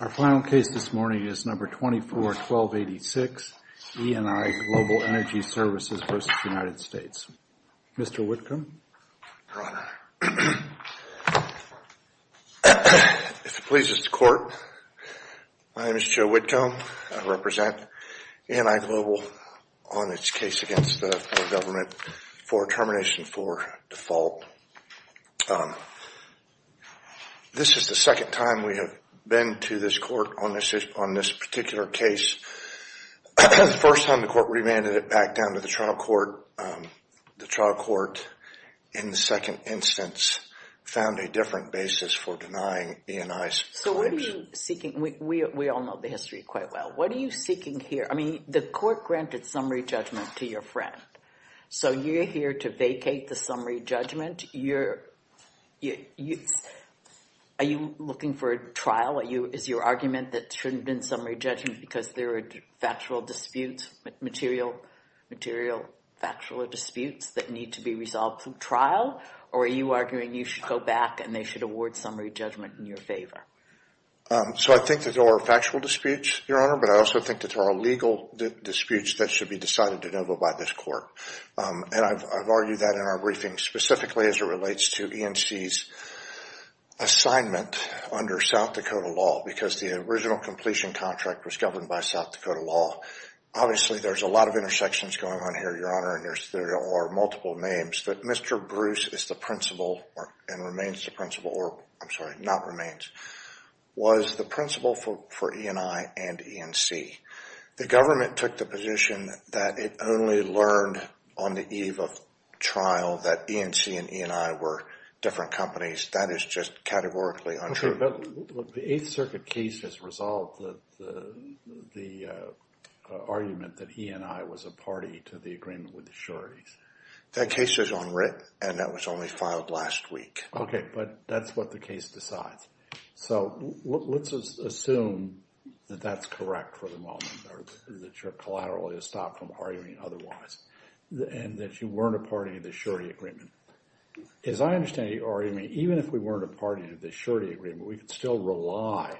Our final case this morning is No. 24-1286, E&I Global Energy Services v. United States. Mr. Whitcomb. Your Honor, if it pleases the Court, my name is Joe Whitcomb. I represent E&I Global on its case against the federal government for termination for default. This is the second time we have been to this court on this particular case. The first time the court remanded it back down to the trial court. The trial court, in the second instance, found a different basis for denying E&I's claims. So what are you seeking? We all know the history quite well. What are you seeking here? I mean, the court granted summary judgment to your friend. So you're here to vacate the summary judgment. Are you looking for a trial? Is your argument that there shouldn't have been summary judgment because there are factual disputes, material factual disputes that need to be resolved through trial? Or are you arguing you should go back and they should award summary judgment in your favor? So I think that there are factual disputes, Your Honor, but I also think that there are legal disputes that should be decided to go by this court. And I've argued that in our briefing, specifically as it relates to E&C's assignment under South Dakota law, because the original completion contract was governed by South Dakota law. Obviously, there's a lot of intersections going on here, Your Honor, and there are multiple names. But Mr. Bruce is the principal and remains the principal, or I'm sorry, not remains, was the principal for E&I and E&C. The government took the position that it only learned on the eve of trial that E&C and E&I were different companies. That is just categorically untrue. But the Eighth Circuit case has resolved the argument that E&I was a party to the agreement with the sureties. That case is unwritten, and that was only filed last week. Okay, but that's what the case decides. So let's assume that that's correct for the moment, or that you're collaterally stopped from arguing otherwise, and that you weren't a party to the surety agreement. As I understand your argument, even if we weren't a party to the surety agreement, we could still rely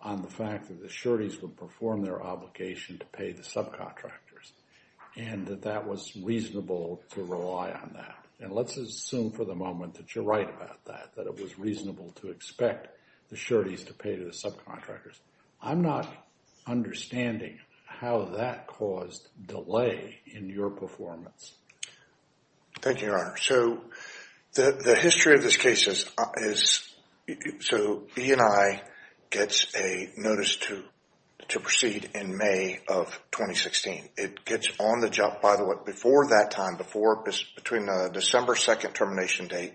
on the fact that the sureties would perform their obligation to pay the subcontractors, and that that was reasonable to rely on that. And let's assume for the moment that you're right about that, that it was reasonable to expect the sureties to pay to the subcontractors. I'm not understanding how that caused delay in your performance. Thank you, Your Honor. So the history of this case is, so E&I gets a notice to proceed in May of 2016. It gets on the job, by the way, before that time, between the December 2nd termination date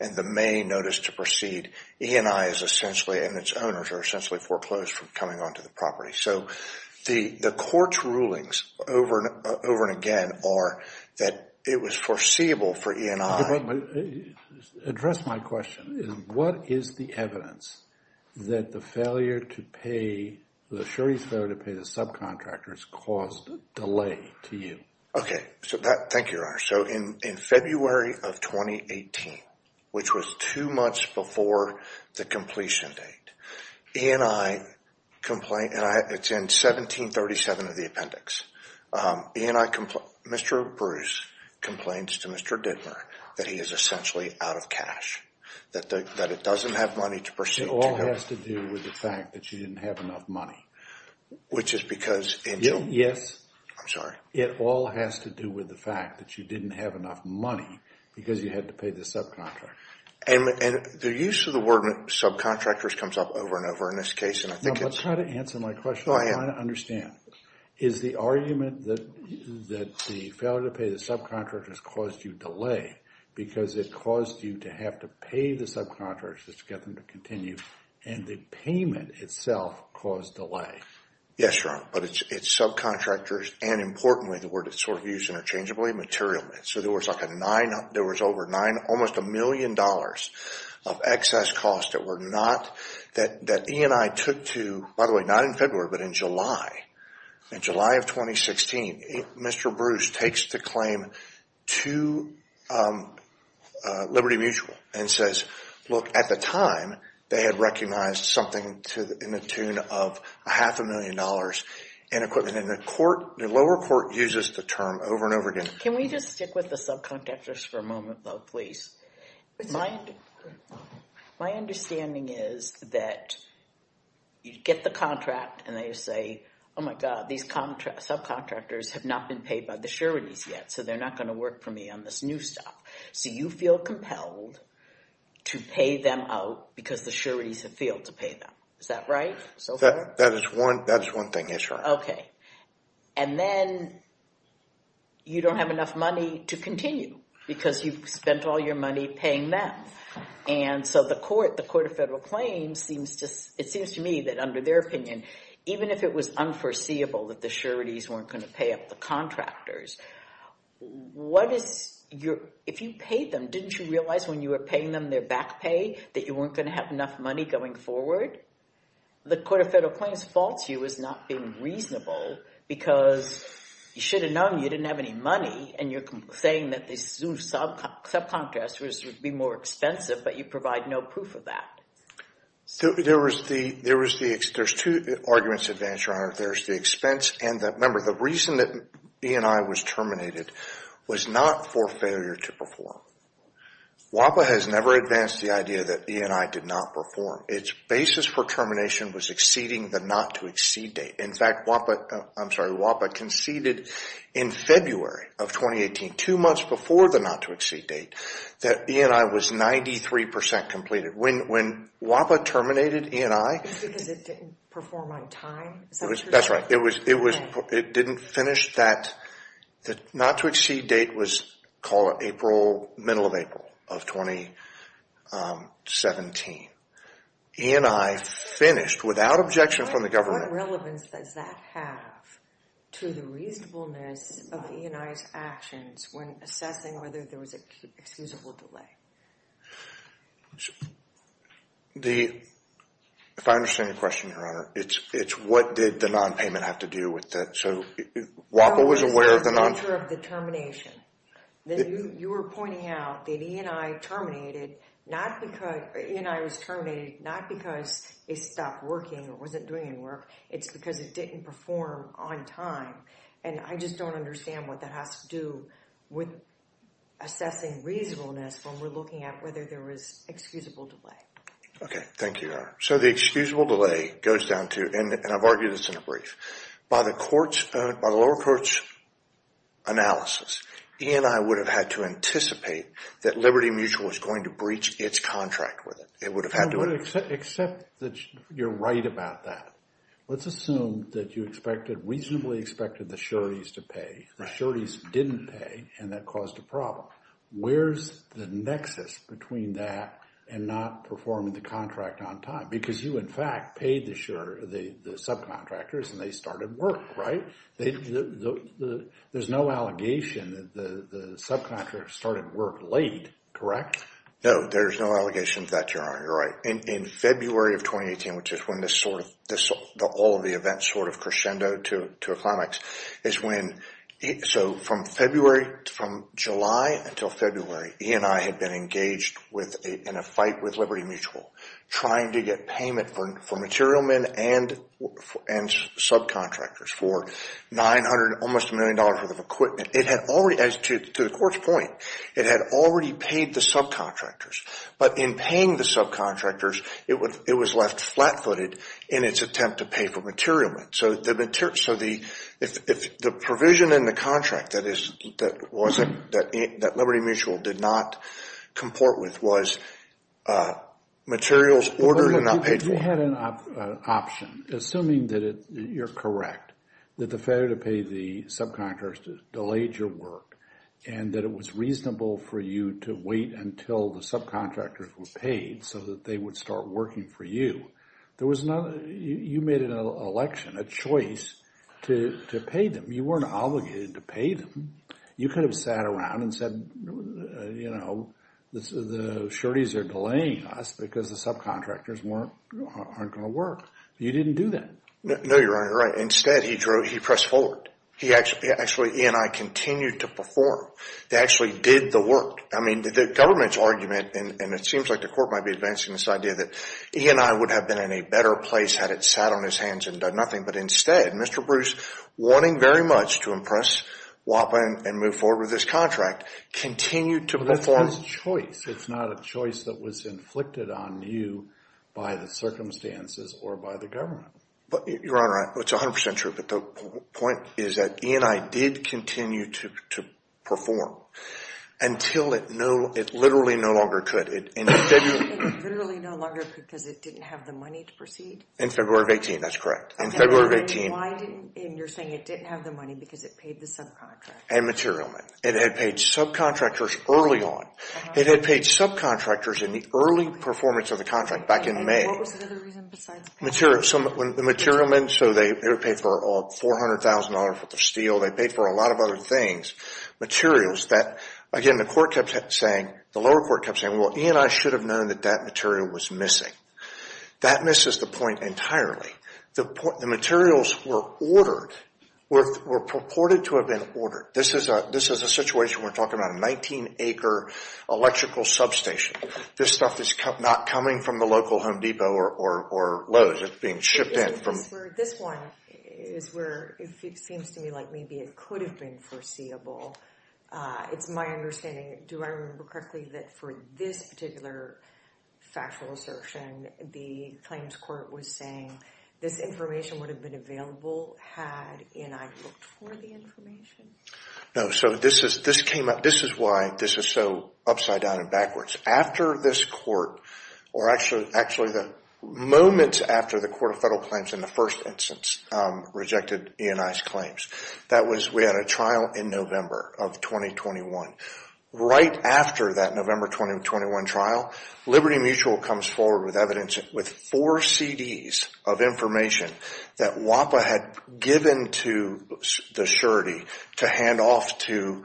and the May notice to proceed, E&I is essentially, and its owners are essentially foreclosed from coming onto the property. So the court's rulings over and again are that it was foreseeable for E&I. But address my question. What is the evidence that the failure to pay, the surety's failure to pay the subcontractors caused delay to you? So that, thank you, Your Honor. So in February of 2018, which was two months before the completion date, E&I complained, and it's in 1737 of the appendix. E&I, Mr. Bruce complains to Mr. Dittmer that he is essentially out of cash, that it doesn't have money to proceed. It all has to do with the fact that you didn't have enough money. Which is because, and you. Yes. I'm sorry. It all has to do with the fact that you didn't have enough money because you had to pay the subcontractor. And the use of the word subcontractors comes up over and over in this case, and I think it's. Let's try to answer my question. I want to understand. Is the argument that the failure to pay the subcontractors caused you delay because it caused you to have to pay the subcontractors to get them to continue, and the payment itself caused delay? Yes, Your Honor. But it's subcontractors, and importantly, the word that's sort of used interchangeably, material. So there was like a nine, there was over nine, almost a million dollars of excess cost that were not, that E&I took to. By the way, not in February, but in July. In July of 2016, Mr. Bruce takes the claim to Liberty Mutual and says, look, at the time, they had recognized something in the tune of a half a million dollars in equipment, and the lower court uses the term over and over again. Can we just stick with the subcontractors for a moment, though, please? My understanding is that you get the contract, and they say, oh, my God, these subcontractors have not been paid by the sureties yet, so they're not going to work for me on this new stuff. So you feel compelled to pay them out because the sureties have failed to pay them. Is that right so far? That is one thing, yes, Your Honor. Okay. And then you don't have enough money to continue because you've spent all your money paying them. And so the court, the Court of Federal Claims, it seems to me that under their opinion, even if it was unforeseeable that the sureties weren't going to pay up the contractors, if you paid them, didn't you realize when you were paying them their back pay that you weren't going to have enough money going forward? The Court of Federal Claims faults you as not being reasonable because you should have known you didn't have any money, and you're saying that the subcontractors would be more expensive, but you provide no proof of that. There's two arguments at vantage, Your Honor. And remember, the reason that E&I was terminated was not for failure to perform. WAPA has never advanced the idea that E&I did not perform. Its basis for termination was exceeding the not-to-exceed date. In fact, WAPA conceded in February of 2018, two months before the not-to-exceed date, that E&I was 93% completed. When WAPA terminated E&I, Is that because it didn't perform on time? That's right. It didn't finish that not-to-exceed date, call it the middle of April of 2017. E&I finished without objection from the government. What relevance does that have to the reasonableness of E&I's actions when assessing whether there was an excusable delay? I don't understand your question, Your Honor. It's what did the non-payment have to do with that? WAPA was aware of the non-payment. It was the nature of the termination. You were pointing out that E&I was terminated not because it stopped working or wasn't doing any work. It's because it didn't perform on time. And I just don't understand what that has to do with assessing reasonableness when we're looking at whether there was excusable delay. Okay. Thank you, Your Honor. So the excusable delay goes down to, and I've argued this in a brief, by the lower court's analysis, E&I would have had to anticipate that Liberty Mutual was going to breach its contract with it. I would accept that you're right about that. Let's assume that you reasonably expected the sureties to pay. The sureties didn't pay, and that caused a problem. Where's the nexus between that and not performing the contract on time? Because you, in fact, paid the subcontractors, and they started work, right? There's no allegation that the subcontractors started work late, correct? No, there's no allegation of that, Your Honor. You're right. In February of 2018, which is when all of the events sort of crescendoed to a climax, so from July until February, E&I had been engaged in a fight with Liberty Mutual, trying to get payment for material men and subcontractors for almost $1 million worth of equipment. To the court's point, it had already paid the subcontractors, but in paying the subcontractors, it was left flat-footed in its attempt to pay for material men. So the provision in the contract that Liberty Mutual did not comport with was materials ordered and not paid for. You had an option, assuming that you're correct, that the failure to pay the subcontractors delayed your work and that it was reasonable for you to wait until the subcontractors were paid so that they would start working for you. You made an election, a choice, to pay them. You weren't obligated to pay them. You could have sat around and said, you know, the sureties are delaying us because the subcontractors aren't going to work. You didn't do that. No, Your Honor, you're right. Instead, he pressed forward. Actually, E&I continued to perform. They actually did the work. I mean, the government's argument, and it seems like the court might be advancing this idea, that E&I would have been in a better place had it sat on his hands and done nothing. But instead, Mr. Bruce, wanting very much to impress WAPA and move forward with this contract, continued to perform. But that's his choice. It's not a choice that was inflicted on you by the circumstances or by the government. Your Honor, it's 100% true, but the point is that E&I did continue to perform until it literally no longer could. It literally no longer could because it didn't have the money to proceed? In February of 2018, that's correct. In February of 2018. And you're saying it didn't have the money because it paid the subcontractors? And material men. It had paid subcontractors early on. It had paid subcontractors in the early performance of the contract back in May. And what was the other reason besides pay? The material men, so they paid for $400,000 worth of steel. They paid for a lot of other things, materials that, again, the lower court kept saying, well, E&I should have known that that material was missing. That misses the point entirely. The materials were ordered, were purported to have been ordered. This is a situation we're talking about, a 19-acre electrical substation. This stuff is not coming from the local Home Depot or Lowe's. It's being shipped in. This one is where it seems to me like maybe it could have been foreseeable. It's my understanding. Do I remember correctly that for this particular factual assertion, the claims court was saying this information would have been available had E&I looked for the information? No. So this is why this is so upside down and backwards. After this court, or actually the moment after the Court of Federal Claims in the first instance rejected E&I's claims, that was we had a trial in November of 2021. Right after that November 2021 trial, Liberty Mutual comes forward with evidence with four CDs of information that WAPA had given to the surety to hand off to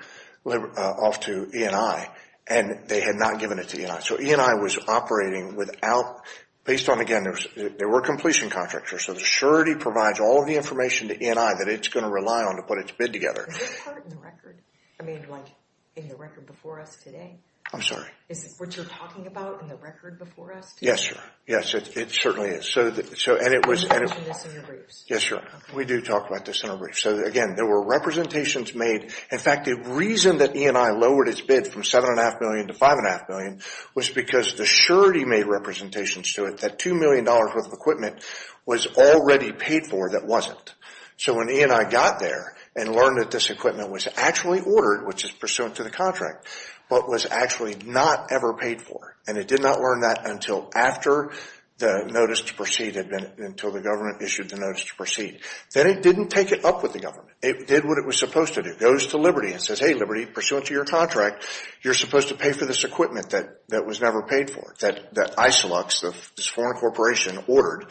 E&I, and they had not given it to E&I. So E&I was operating without, based on, again, there were completion contracts. So the surety provides all of the information to E&I that it's going to rely on to put its bid together. Is this part in the record? I mean, like in the record before us today? I'm sorry. Is this what you're talking about in the record before us today? Yes, sir. Yes, it certainly is. Can you mention this in your briefs? Yes, sir. We do talk about this in our briefs. So, again, there were representations made. In fact, the reason that E&I lowered its bid from $7.5 million to $5.5 million was because the surety made representations to it that $2 million worth of equipment was already paid for that wasn't. So when E&I got there and learned that this equipment was actually ordered, which is pursuant to the contract, but was actually not ever paid for, and it did not learn that until after the notice to proceed had been, until the government issued the notice to proceed. Then it didn't take it up with the government. It did what it was supposed to do. It goes to Liberty and says, hey, Liberty, pursuant to your contract, you're supposed to pay for this equipment that was never paid for, that Isilux, this foreign corporation, ordered,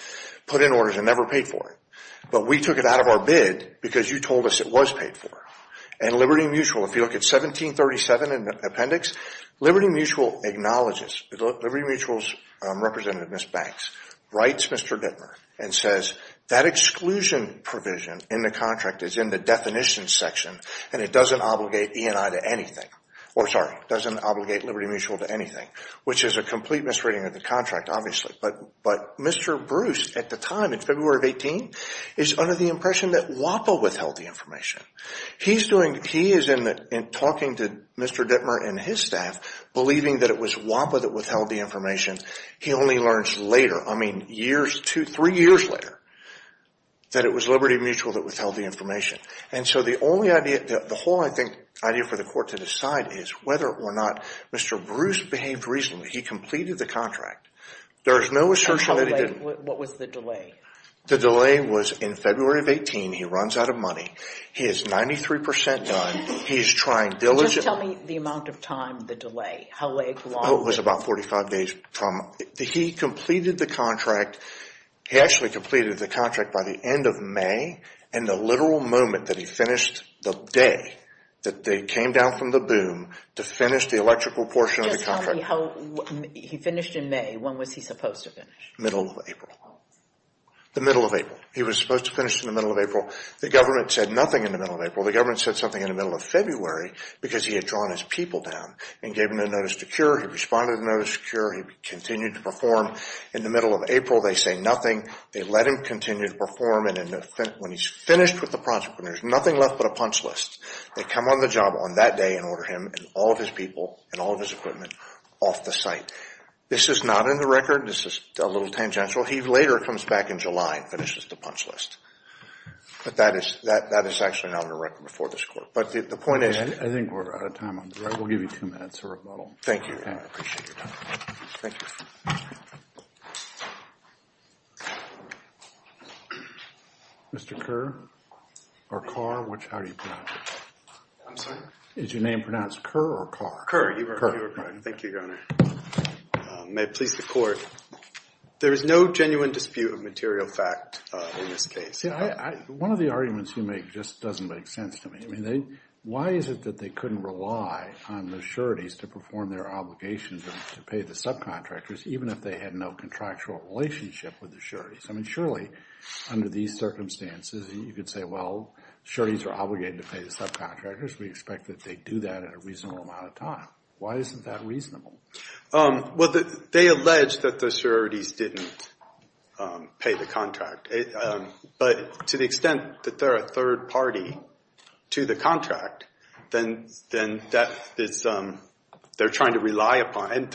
put in orders and never paid for it. But we took it out of our bid because you told us it was paid for. And Liberty Mutual, if you look at 1737 in the appendix, Liberty Mutual acknowledges, Liberty Mutual's representative, Ms. Banks, writes Mr. Dittmer and says that exclusion provision in the contract is in the definition section and it doesn't obligate E&I to anything, or sorry, doesn't obligate Liberty Mutual to anything, which is a complete misreading of the contract, obviously. But Mr. Bruce, at the time, in February of 18, is under the impression that WAPA withheld the information. He's doing, he is in the, in talking to Mr. Dittmer and his staff, believing that it was WAPA that withheld the information. He only learns later, I mean years, two, three years later, that it was Liberty Mutual that withheld the information. And so the only idea, the whole, I think, idea for the court to decide is whether or not Mr. Bruce behaved reasonably. He completed the contract. There is no assertion that he didn't. And how late, what was the delay? The delay was in February of 18. He runs out of money. He is 93% done. He is trying diligently. Just tell me the amount of time the delay, how late, how long. Oh, it was about 45 days from, he completed the contract. He actually completed the contract by the end of May and the literal moment that he finished the day that they came down from the boom to finish the electrical portion of the contract. Just tell me how, he finished in May. When was he supposed to finish? Middle of April. The middle of April. He was supposed to finish in the middle of April. The government said nothing in the middle of April. The government said something in the middle of February because he had drawn his people down and gave them a notice to cure. He responded to the notice to cure. He continued to perform in the middle of April. They say nothing. They let him continue to perform. And when he's finished with the project, when there's nothing left but a punch list, they come on the job on that day and order him and all of his people and all of his equipment off the site. This is not in the record. This is a little tangential. He later comes back in July and finishes the punch list. But that is actually not in the record before this court. But the point is… I think we're out of time. We'll give you two minutes for rebuttal. Thank you. I appreciate your time. Thank you. Thank you. Mr. Kerr or Carr, how do you pronounce it? I'm sorry? Is your name pronounced Kerr or Carr? Kerr. Thank you, Your Honor. May it please the court. There is no genuine dispute of material fact in this case. One of the arguments you make just doesn't make sense to me. Why is it that they couldn't rely on the sureties to perform their obligations and to pay the subcontractors, even if they had no contractual relationship with the sureties? I mean, surely under these circumstances you could say, well, sureties are obligated to pay the subcontractors. We expect that they do that in a reasonable amount of time. Why isn't that reasonable? Well, they allege that the sureties didn't pay the contract. But to the extent that they're a third party to the contract, then they're trying to rely upon it.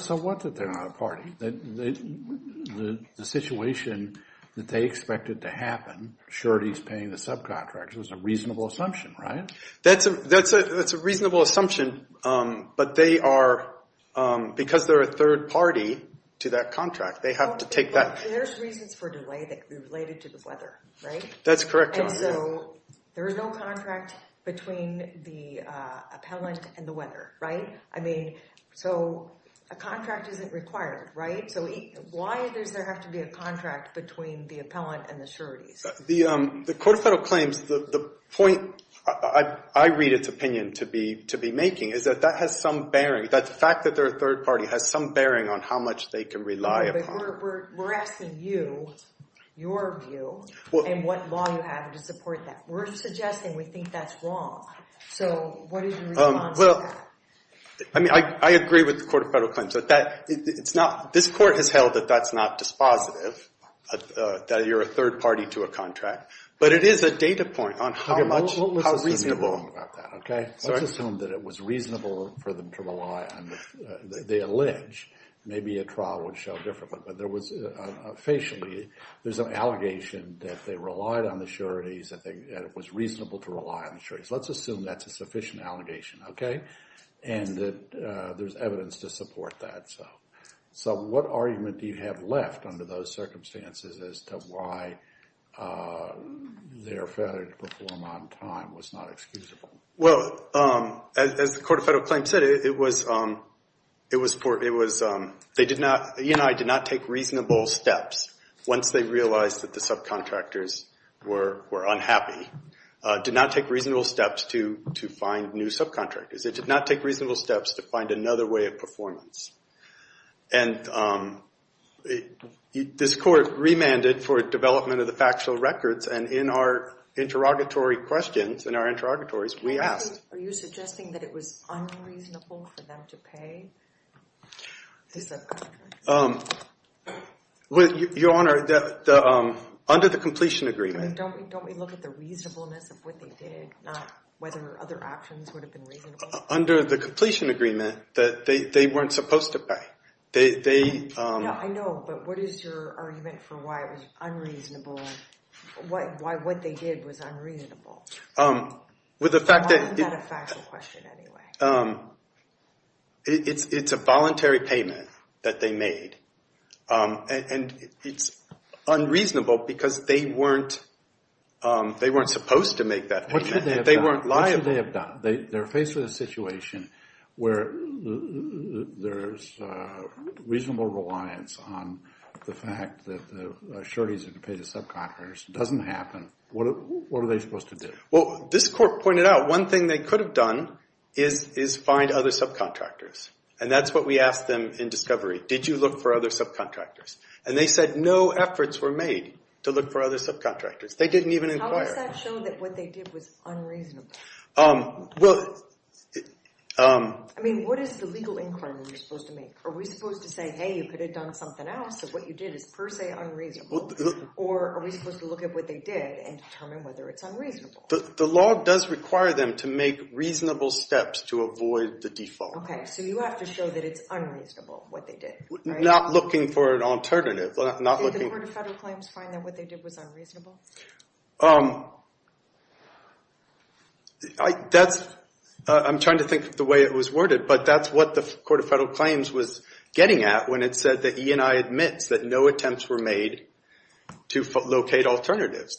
So what if they're not a party? The situation that they expected to happen, sureties paying the subcontractors, is a reasonable assumption, right? That's a reasonable assumption. But because they're a third party to that contract, they have to take that. There's reasons for delay related to the weather, right? That's correct, Your Honor. And so there is no contract between the appellant and the weather, right? I mean, so a contract isn't required, right? So why does there have to be a contract between the appellant and the sureties? The court of federal claims, the point I read its opinion to be making is that that has some bearing, that the fact that they're a third party has some bearing on how much they can rely upon. But we're asking you, your view, and what law you have to support that. We're suggesting we think that's wrong. So what is your response to that? I mean, I agree with the court of federal claims. This court has held that that's not dispositive, that you're a third party to a contract. But it is a data point on how much, how reasonable. Let's assume that it was reasonable for them to rely on the allege. Maybe a trial would show differently. But there was, facially, there's an allegation that they relied on the sureties, that it was reasonable to rely on the sureties. Let's assume that's a sufficient allegation, okay? And that there's evidence to support that. So what argument do you have left under those circumstances as to why their failure to perform on time was not excusable? Well, as the court of federal claims said, it was they did not, E&I did not take reasonable steps, once they realized that the subcontractors were unhappy, did not take reasonable steps to find new subcontractors. It did not take reasonable steps to find another way of performance. And this court remanded for development of the factual records, and in our interrogatory questions, in our interrogatories, we asked. Are you suggesting that it was unreasonable for them to pay the subcontractors? Your Honor, under the completion agreement. Don't we look at the reasonableness of what they did, not whether other options would have been reasonable? Under the completion agreement, they weren't supposed to pay. I know, but what is your argument for why it was unreasonable? Why what they did was unreasonable? With the fact that it's a voluntary payment that they made, and it's unreasonable because they weren't supposed to make that payment. They weren't liable. What should they have done? They're faced with a situation where there's reasonable reliance on the fact that the sureties are to pay the subcontractors. It doesn't happen. What are they supposed to do? Well, this court pointed out one thing they could have done is find other subcontractors, and that's what we asked them in discovery. Did you look for other subcontractors? And they said no efforts were made to look for other subcontractors. They didn't even inquire. How does that show that what they did was unreasonable? I mean, what is the legal inquiry you're supposed to make? Are we supposed to say, hey, you could have done something else, so what you did is per se unreasonable, or are we supposed to look at what they did and determine whether it's unreasonable? The law does require them to make reasonable steps to avoid the default. Okay. So you have to show that it's unreasonable what they did, right? Not looking for an alternative. Did the Court of Federal Claims find that what they did was unreasonable? I'm trying to think of the way it was worded, but that's what the Court of Federal Claims was getting at when it said that E&I admits that no attempts were made to locate alternatives.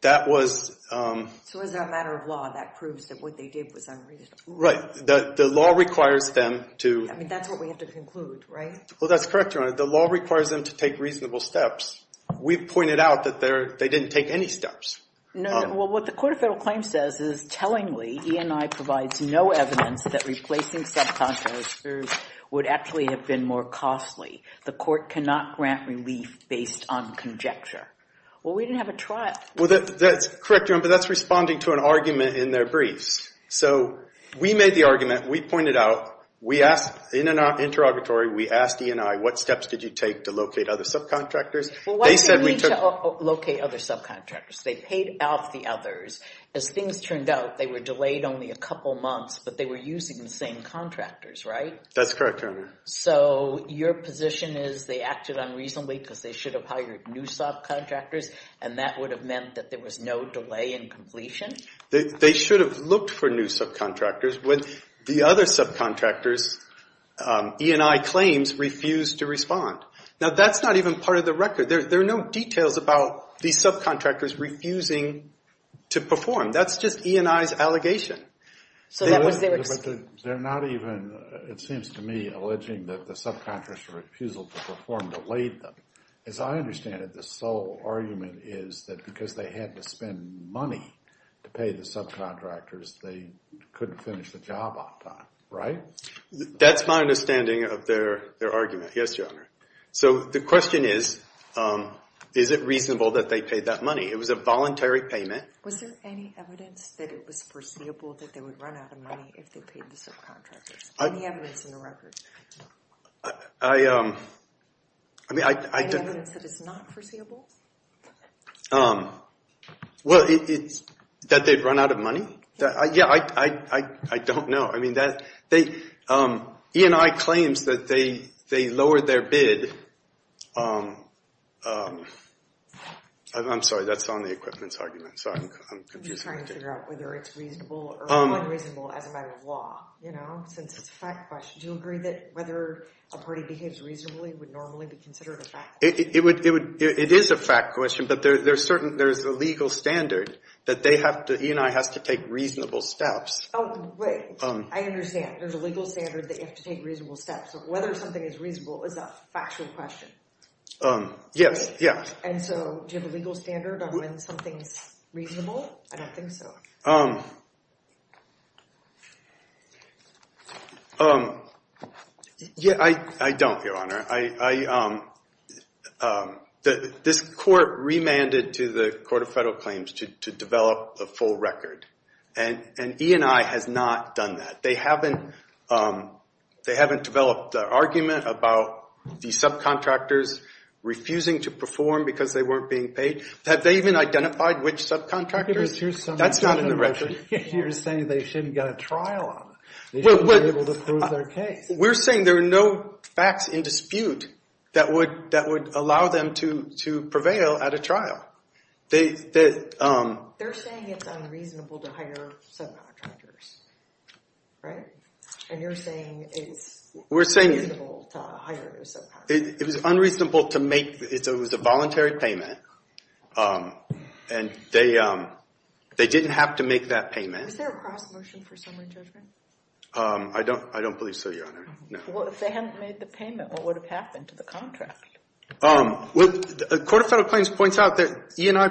That was ‑‑ So as a matter of law, that proves that what they did was unreasonable. Right. The law requires them to ‑‑ I mean, that's what we have to conclude, right? Well, that's correct, Your Honor. The law requires them to take reasonable steps. We've pointed out that they didn't take any steps. No, no. Well, what the Court of Federal Claims says is, that replacing subcontractors would actually have been more costly. The Court cannot grant relief based on conjecture. Well, we didn't have a trial. Well, that's correct, Your Honor, but that's responding to an argument in their briefs. So we made the argument. We pointed out. We asked in an interrogatory, we asked E&I, what steps did you take to locate other subcontractors? Well, why did they need to locate other subcontractors? They paid out the others. As things turned out, they were delayed only a couple months, but they were using the same contractors, right? That's correct, Your Honor. So your position is they acted unreasonably because they should have hired new subcontractors, and that would have meant that there was no delay in completion? They should have looked for new subcontractors. The other subcontractors, E&I claims, refused to respond. Now, that's not even part of the record. There are no details about these subcontractors refusing to perform. That's just E&I's allegation. They're not even, it seems to me, alleging that the subcontractor's refusal to perform delayed them. As I understand it, the sole argument is that because they had to spend money to pay the subcontractors, they couldn't finish the job on time, right? That's my understanding of their argument. Yes, Your Honor. So the question is, is it reasonable that they paid that money? It was a voluntary payment. Was there any evidence that it was foreseeable that they would run out of money if they paid the subcontractors? Any evidence in the record? Any evidence that it's not foreseeable? Well, that they'd run out of money? Yeah, I don't know. E&I claims that they lowered their bid. I'm sorry, that's on the equipment's argument, so I'm confusing. I'm just trying to figure out whether it's reasonable or unreasonable as a matter of law, you know, since it's a fact question. Do you agree that whether a party behaves reasonably would normally be considered a fact? It is a fact question, but there's a legal standard that E&I has to take reasonable steps. Oh, wait, I understand. There's a legal standard that you have to take reasonable steps, so whether something is reasonable is a factual question. Yes, yeah. And so do you have a legal standard on when something's reasonable? I don't think so. Yeah, I don't, Your Honor. This court remanded to the Court of Federal Claims to develop a full record, and E&I has not done that. They haven't developed an argument about the subcontractors refusing to perform because they weren't being paid. Have they even identified which subcontractors? That's not in the record. You're saying they shouldn't get a trial on it. They shouldn't be able to prove their case. We're saying there are no facts in dispute that would allow them to prevail at a trial. They're saying it's unreasonable to hire subcontractors. Right? And you're saying it's unreasonable to hire subcontractors. It was unreasonable to make. It was a voluntary payment, and they didn't have to make that payment. Was there a cross-motion for summary judgment? I don't believe so, Your Honor. Well, if they hadn't made the payment, what would have happened to the contract? Well, the Court of Federal Claims points out that E&I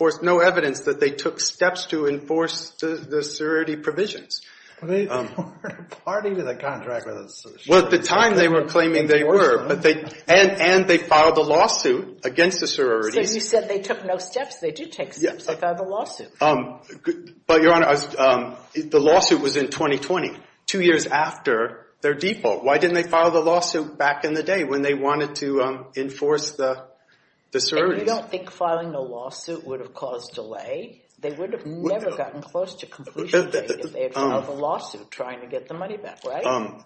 that they took steps to enforce the sorority provisions. But they weren't a party to the contract. Well, at the time they were claiming they were, and they filed a lawsuit against the sororities. So you said they took no steps. They did take steps. They filed a lawsuit. But, Your Honor, the lawsuit was in 2020, two years after their default. Why didn't they file the lawsuit back in the day when they wanted to enforce the sororities? You don't think filing a lawsuit would have caused delay? They would have never gotten close to completion date if they had filed a lawsuit trying to get the money back, right?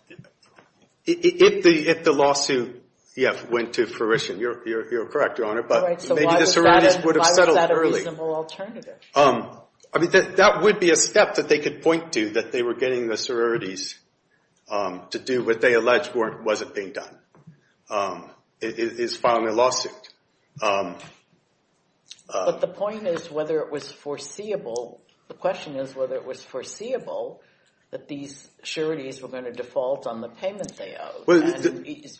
If the lawsuit, yes, went to fruition, you're correct, Your Honor. But maybe the sororities would have settled early. Why was that a reasonable alternative? I mean, that would be a step that they could point to, that they were getting the sororities to do what they alleged wasn't being done, is filing a lawsuit. But the point is whether it was foreseeable, the question is whether it was foreseeable that these sororities were going to default on the payment they owed.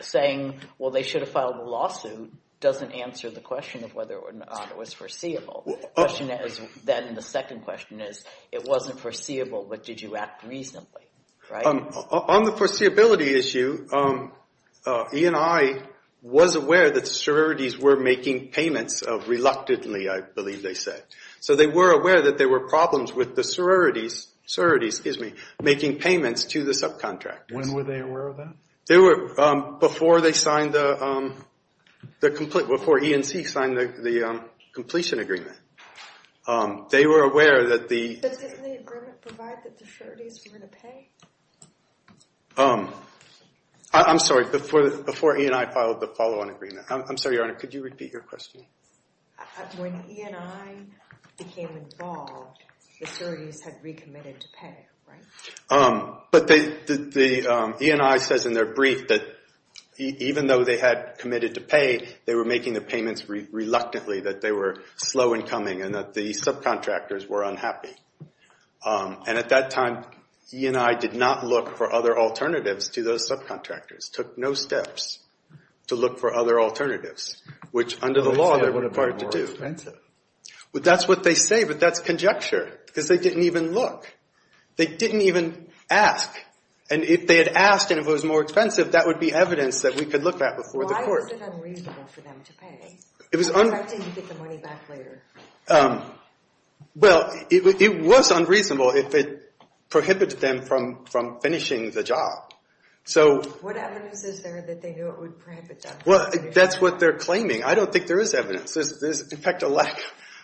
Saying, well, they should have filed a lawsuit, doesn't answer the question of whether or not it was foreseeable. The question is then, the second question is, it wasn't foreseeable, but did you act reasonably, right? On the foreseeability issue, E&I was aware that the sororities were making payments reluctantly, I believe they said. So they were aware that there were problems with the sororities making payments to the subcontractors. When were they aware of that? Before E&C signed the completion agreement. They were aware that the... Did the agreement provide that the sororities were going to pay? I'm sorry, before E&I filed the follow-on agreement. I'm sorry, Your Honor, could you repeat your question? When E&I became involved, the sororities had recommitted to pay, right? But E&I says in their brief that even though they had committed to pay, they were making the payments reluctantly, that they were slow in coming and that the subcontractors were unhappy. And at that time, E&I did not look for other alternatives to those subcontractors, took no steps to look for other alternatives, which under the law they're required to do. But that's what they say, but that's conjecture, because they didn't even look. They didn't even ask. And if they had asked and if it was more expensive, that would be evidence that we could look at before the court. Why was it unreasonable for them to pay? Why didn't you get the money back later? Well, it was unreasonable if it prohibited them from finishing the job. What evidence is there that they knew it would prohibit them? Well, that's what they're claiming. I don't think there is evidence. There's, in fact, a lack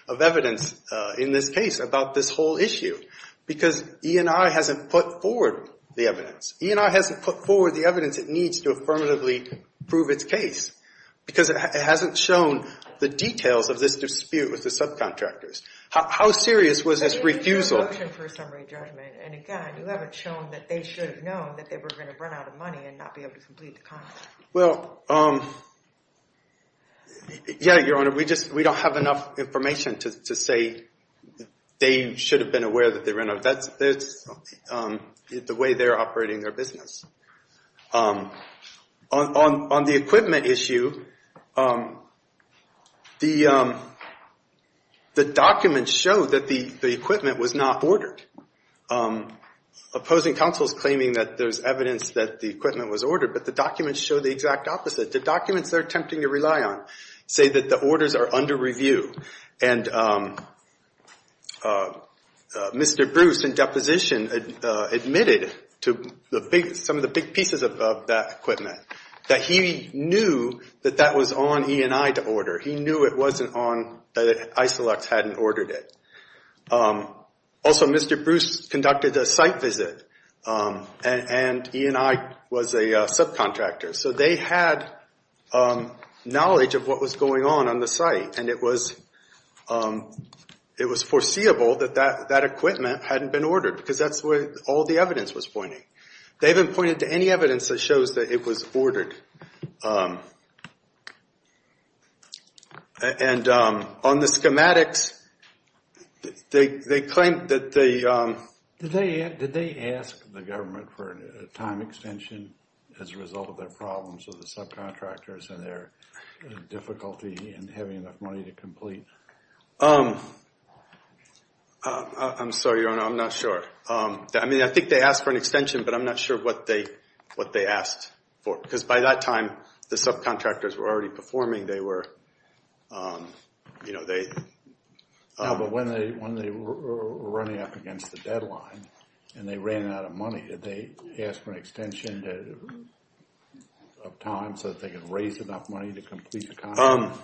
of evidence in this case about this whole issue because E&I hasn't put forward the evidence. E&I hasn't put forward the evidence it needs to affirmatively prove its case because it hasn't shown the details of this dispute with the subcontractors. How serious was this refusal? Why didn't you get a motion for a summary judgment? And, again, you haven't shown that they should have known that they were going to run out of money and not be able to complete the contract. Well, yeah, Your Honor, we don't have enough information to say they should have been aware that they ran out of money. That's the way they're operating their business. On the equipment issue, the documents show that the equipment was not ordered. Opposing counsel is claiming that there's evidence that the equipment was ordered, but the documents show the exact opposite. The documents they're attempting to rely on say that the orders are under review. And Mr. Bruce, in deposition, admitted to some of the big pieces of that equipment, that he knew that that was on E&I to order. He knew it wasn't on, that Isilux hadn't ordered it. Also, Mr. Bruce conducted a site visit, and E&I was a subcontractor. So they had knowledge of what was going on on the site, and it was foreseeable that that equipment hadn't been ordered, because that's what all the evidence was pointing. They haven't pointed to any evidence that shows that it was ordered. And on the schematics, they claim that they... Did they ask the government for a time extension as a result of their problems with the subcontractors and their difficulty in having enough money to complete? I'm sorry, Your Honor, I'm not sure. I mean, I think they asked for an extension, but I'm not sure what they asked for. Because by that time, the subcontractors were already performing. They were, you know, they... No, but when they were running up against the deadline, and they ran out of money, did they ask for an extension of time so that they could raise enough money to complete the contract?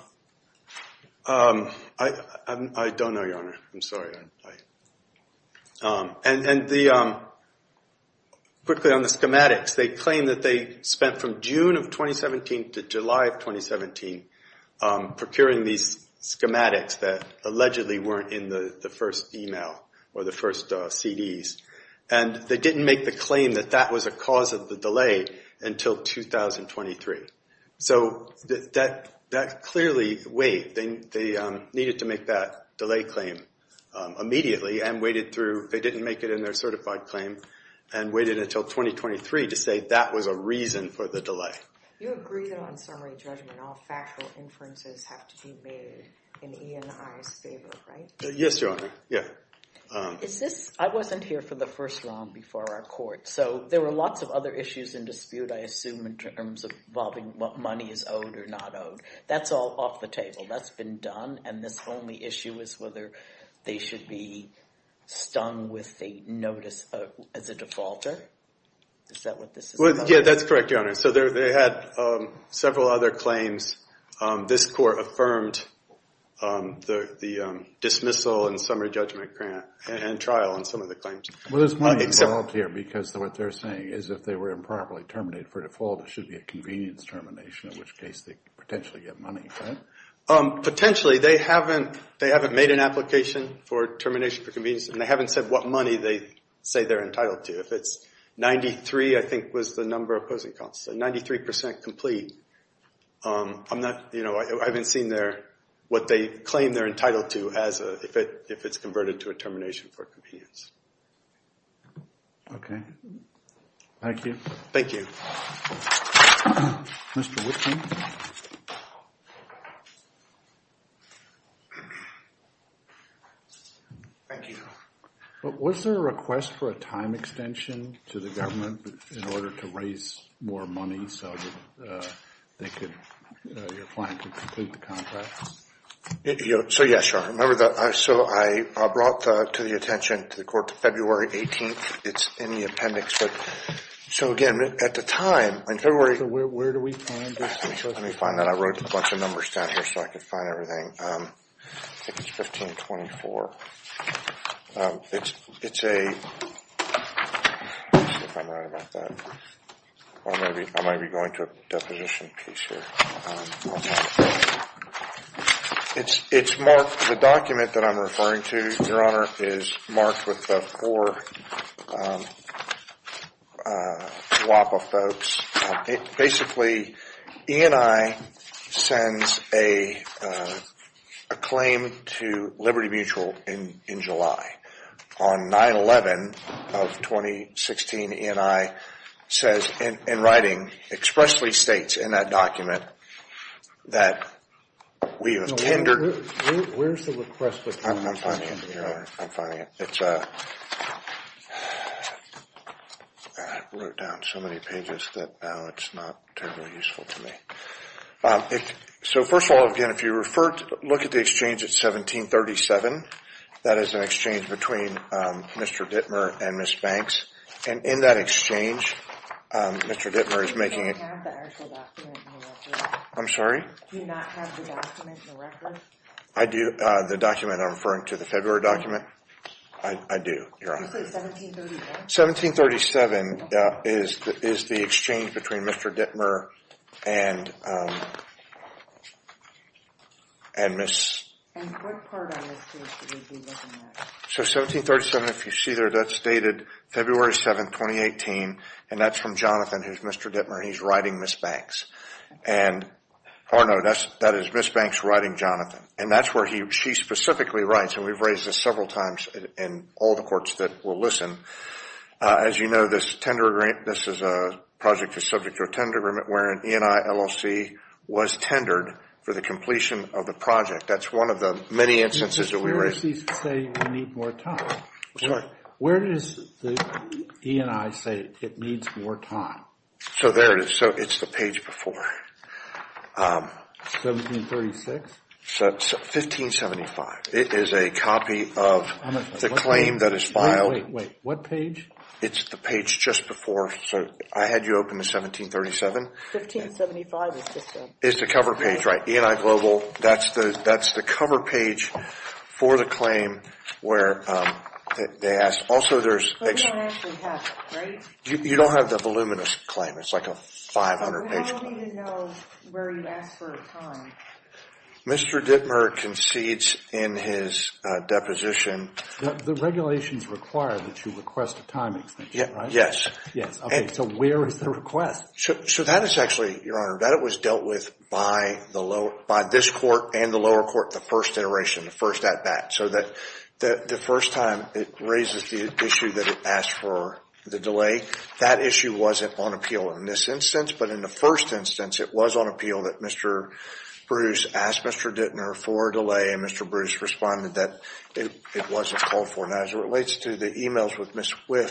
I don't know, Your Honor. I'm sorry. And quickly, on the schematics, they claim that they spent from June of 2017 to July of 2017 procuring these schematics that allegedly weren't in the first email or the first CDs. And they didn't make the claim that that was a cause of the delay until 2023. So that clearly waived. They needed to make that delay claim immediately and waited through. They didn't make it in their certified claim and waited until 2023 to say that was a reason for the delay. You agree that on summary judgment, all factual inferences have to be made in E&I's favor, right? Yes, Your Honor. Yeah. I wasn't here for the first round before our court. So there were lots of other issues in dispute, I assume, in terms of involving what money is owed or not owed. That's all off the table. That's been done. And this only issue is whether they should be stung with a notice as a defaulter. Is that what this is about? Yeah, that's correct, Your Honor. So they had several other claims. This court affirmed the dismissal and summary judgment grant and trial on some of the claims. Well, there's money involved here because what they're saying is if they were improperly terminated for default, it should be a convenience termination, in which case they could potentially get money, correct? Potentially. They haven't made an application for termination for convenience. And they haven't said what money they say they're entitled to. If it's 93, I think, was the number opposing counsel. 93% complete. I haven't seen what they claim they're entitled to if it's converted to a termination for convenience. Okay. Thank you. Thank you. Mr. Witkin. Thank you, Your Honor. But was there a request for a time extension to the government in order to raise more money so your client could complete the contract? So, yes, Your Honor. So I brought to the attention to the court February 18th. It's in the appendix. So, again, at the time, in February. Where do we find this? Let me find that. I wrote a bunch of numbers down here so I could find everything. I think it's 1524. It's a ‑‑ let's see if I'm right about that. I might be going to a deposition piece here. It's marked, the document that I'm referring to, Your Honor, is marked with the four WAPA folks. Basically, E&I sends a claim to Liberty Mutual in July. On 9-11 of 2016, E&I says in writing, expressly states in that document that we have tendered. Where's the request for time extension? I'm finding it, Your Honor. I'm finding it. It's a ‑‑ I wrote down so many pages that now it's not terribly useful to me. So, first of all, again, if you look at the exchange, it's 1737. That is an exchange between Mr. Dittmer and Ms. Banks. And in that exchange, Mr. Dittmer is making a ‑‑ Do you have the actual document in the record? I'm sorry? Do you not have the document in the record? I do. The document I'm referring to, the February document, I do, Your Honor. Did you say 1737? 1737 is the exchange between Mr. Dittmer and Ms. ‑‑ And what part of it is 1737? So, 1737, if you see there, that's dated February 7, 2018. And that's from Jonathan, who's Mr. Dittmer. He's writing Ms. Banks. And, pardon me, that is Ms. Banks writing Jonathan. And that's where she specifically writes. And we've raised this several times in all the courts that will listen. As you know, this tender grant, this is a project that's subject to a tender grant wherein E&I LLC was tendered for the completion of the project. That's one of the many instances that we raised. Where does this say we need more time? Sorry? Where does the E&I say it needs more time? So, there it is. So, it's the page before. 1736? 1575. It is a copy of the claim that is filed. Wait, wait, wait. What page? It's the page just before. So, I had you open the 1737. 1575 is just a ‑‑ It's a cover page, right? E&I Global, that's the cover page for the claim where they ask. Also, there's ‑‑ We don't actually have it, right? You don't have the voluminous claim. It's like a 500‑page claim. We don't need to know where you ask for time. Mr. Dittmer concedes in his deposition. The regulations require that you request a time extension, right? Yes. Yes. Okay, so where is the request? So, that is actually, Your Honor, that was dealt with by this court and the lower court, the first iteration, the first at bat. So that the first time it raises the issue that it asked for the delay, that issue wasn't on appeal in this instance. But in the first instance, it was on appeal that Mr. Bruce asked Mr. Dittmer for a delay and Mr. Bruce responded that it wasn't called for. Now, as it relates to the emails with Ms. Wythe,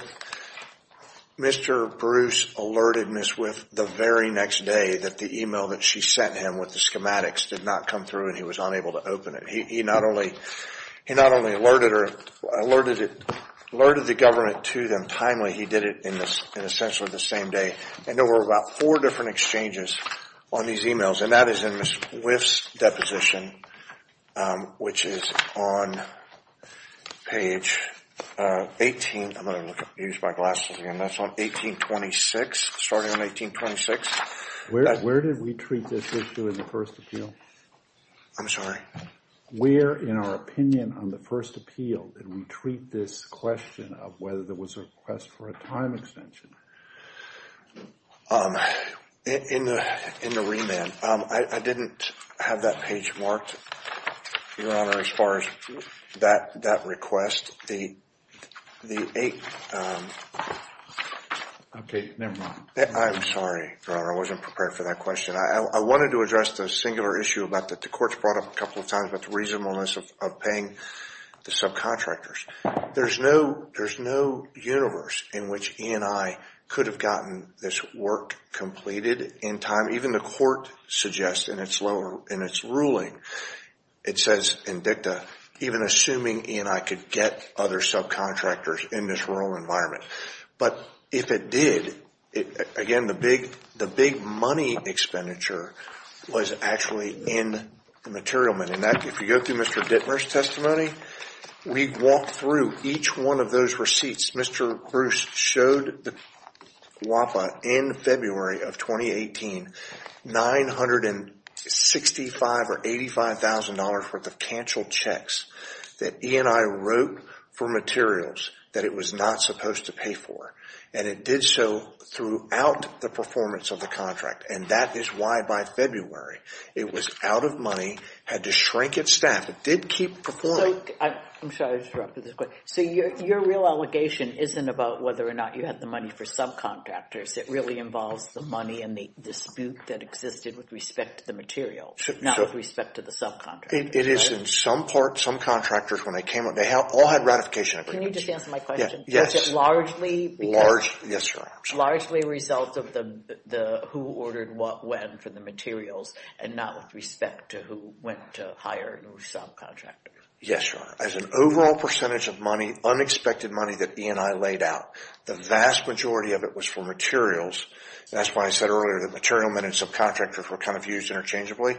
Mr. Bruce alerted Ms. Wythe the very next day that the email that she sent him with the schematics did not come through and he was unable to open it. He not only alerted the government to them timely, he did it in essentially the same day. And there were about four different exchanges on these emails and that is in Ms. Wythe's deposition, which is on page 18. I'm going to use my glasses again. That's on 1826, starting on 1826. Where did we treat this issue in the first appeal? I'm sorry. Where in our opinion on the first appeal did we treat this question of whether there was a request for a time extension? In the remand, I didn't have that page marked, Your Honor, as far as that request. Okay, never mind. I'm sorry, Your Honor. I wasn't prepared for that question. I wanted to address the singular issue that the courts brought up a couple of times about the reasonableness of paying the subcontractors. There's no universe in which E&I could have gotten this work completed in time. Even the court suggests in its ruling, it says in dicta, even assuming E&I could get other subcontractors in this rural environment. If it did, again, the big money expenditure was actually in the material money. If you go through Mr. Dittmer's testimony, we walked through each one of those receipts. Mr. Bruce showed WAPA in February of 2018 $965,000 or $85,000 worth of canceled checks that E&I wrote for materials that it was not supposed to pay for. It did so throughout the performance of the contract. That is why by February, it was out of money, had to shrink its staff. It did keep performing. I'm sorry to interrupt you this quick. Your real allegation isn't about whether or not you had the money for subcontractors. It really involves the money and the dispute that existed with respect to the material, not with respect to the subcontractors. It is in some part. Some contractors, when they came up, they all had ratification agreements. Can you just answer my question? Yes. Was it largely because – Yes, Your Honor. Largely a result of the who ordered what when for the materials and not with respect to who went to hire subcontractors? Yes, Your Honor. As an overall percentage of money, unexpected money that E&I laid out, the vast majority of it was for materials. That's why I said earlier that material men and subcontractors were kind of used interchangeably.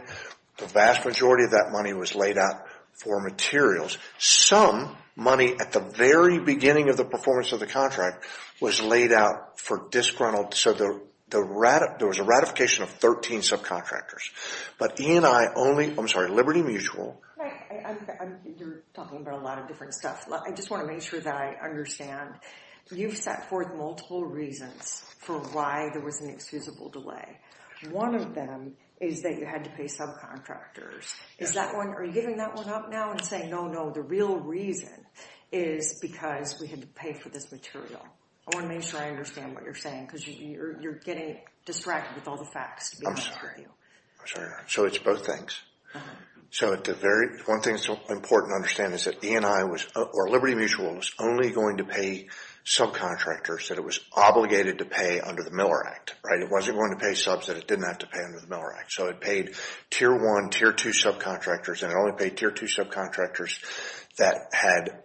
The vast majority of that money was laid out for materials. Some money at the very beginning of the performance of the contract was laid out for disgruntled – so there was a ratification of 13 subcontractors. But E&I only – I'm sorry, Liberty Mutual – You're talking about a lot of different stuff. I just want to make sure that I understand. You've set forth multiple reasons for why there was an excusable delay. One of them is that you had to pay subcontractors. Is that one – are you giving that one up now and saying, no, no, the real reason is because we had to pay for this material? I want to make sure I understand what you're saying because you're getting distracted with all the facts. I'm sorry. So it's both things. So one thing that's important to understand is that E&I was – or Liberty Mutual was only going to pay subcontractors that it was obligated to pay under the Miller Act. It wasn't going to pay subs that it didn't have to pay under the Miller Act. So it paid Tier 1, Tier 2 subcontractors, and it only paid Tier 2 subcontractors that had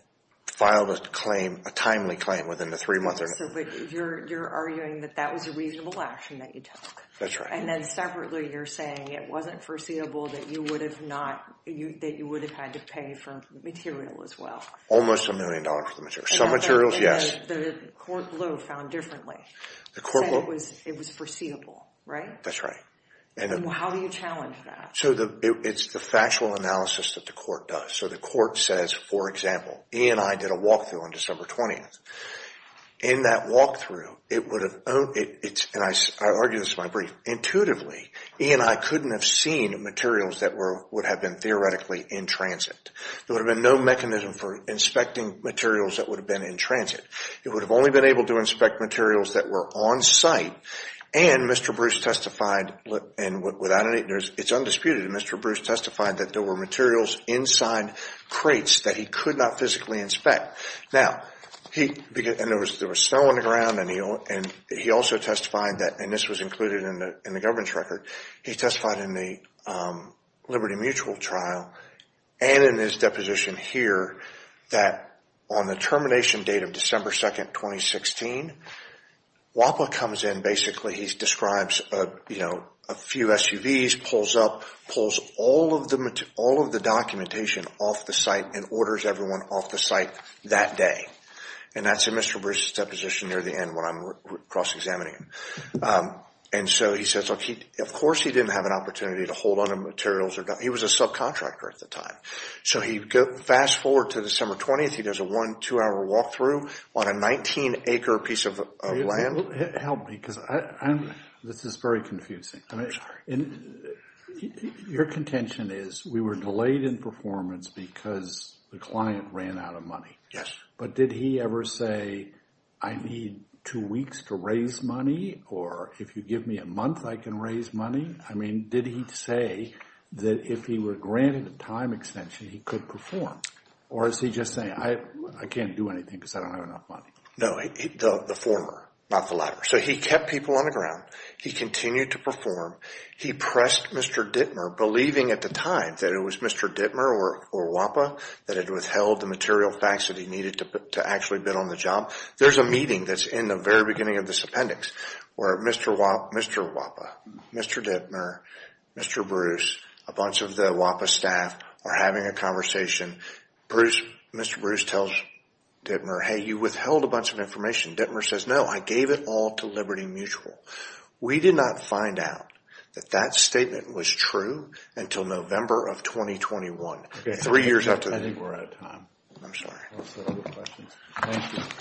filed a timely claim within the three months. So you're arguing that that was a reasonable action that you took. That's right. And then separately you're saying it wasn't foreseeable that you would have not – that you would have had to pay for the material as well. Almost a million dollars for the material. Some materials, yes. The court blow found differently. The court blow? It was foreseeable, right? That's right. And how do you challenge that? So it's the factual analysis that the court does. So the court says, for example, E&I did a walkthrough on December 20th. In that walkthrough, it would have – and I argue this in my brief. Intuitively, E&I couldn't have seen materials that would have been theoretically in transit. There would have been no mechanism for inspecting materials that would have been in transit. It would have only been able to inspect materials that were on site. And Mr. Bruce testified, and it's undisputed, Mr. Bruce testified that there were materials inside crates that he could not physically inspect. Now, he – and there was snow on the ground, and he also testified that – and this was included in the governance record. He testified in the Liberty Mutual trial and in his deposition here that on the termination date of December 2nd, 2016, WAPA comes in, basically, he describes a few SUVs, pulls up, pulls all of the documentation off the site, and orders everyone off the site that day. And that's in Mr. Bruce's deposition near the end when I'm cross-examining it. And so he says, look, of course he didn't have an opportunity to hold onto materials. He was a subcontractor at the time. So he – fast forward to December 20th. He does a one, two-hour walkthrough on a 19-acre piece of land. Help me because I'm – this is very confusing. I'm sorry. And your contention is we were delayed in performance because the client ran out of money. Yes. But did he ever say, I need two weeks to raise money, or if you give me a month, I can raise money? I mean, did he say that if he were granted a time extension, he could perform? Or is he just saying, I can't do anything because I don't have enough money? No, the former, not the latter. So he kept people on the ground. He continued to perform. He pressed Mr. Dittmer, believing at the time that it was Mr. Dittmer or WAPA that had withheld the material facts that he needed to actually bid on the job. There's a meeting that's in the very beginning of this appendix where Mr. WAPA, Mr. Dittmer, Mr. Bruce, a bunch of the WAPA staff are having a conversation. Mr. Bruce tells Dittmer, hey, you withheld a bunch of information. Dittmer says, no, I gave it all to Liberty Mutual. We did not find out that that statement was true until November of 2021, three years after – I think we're out of time. I'm sorry. Thank you.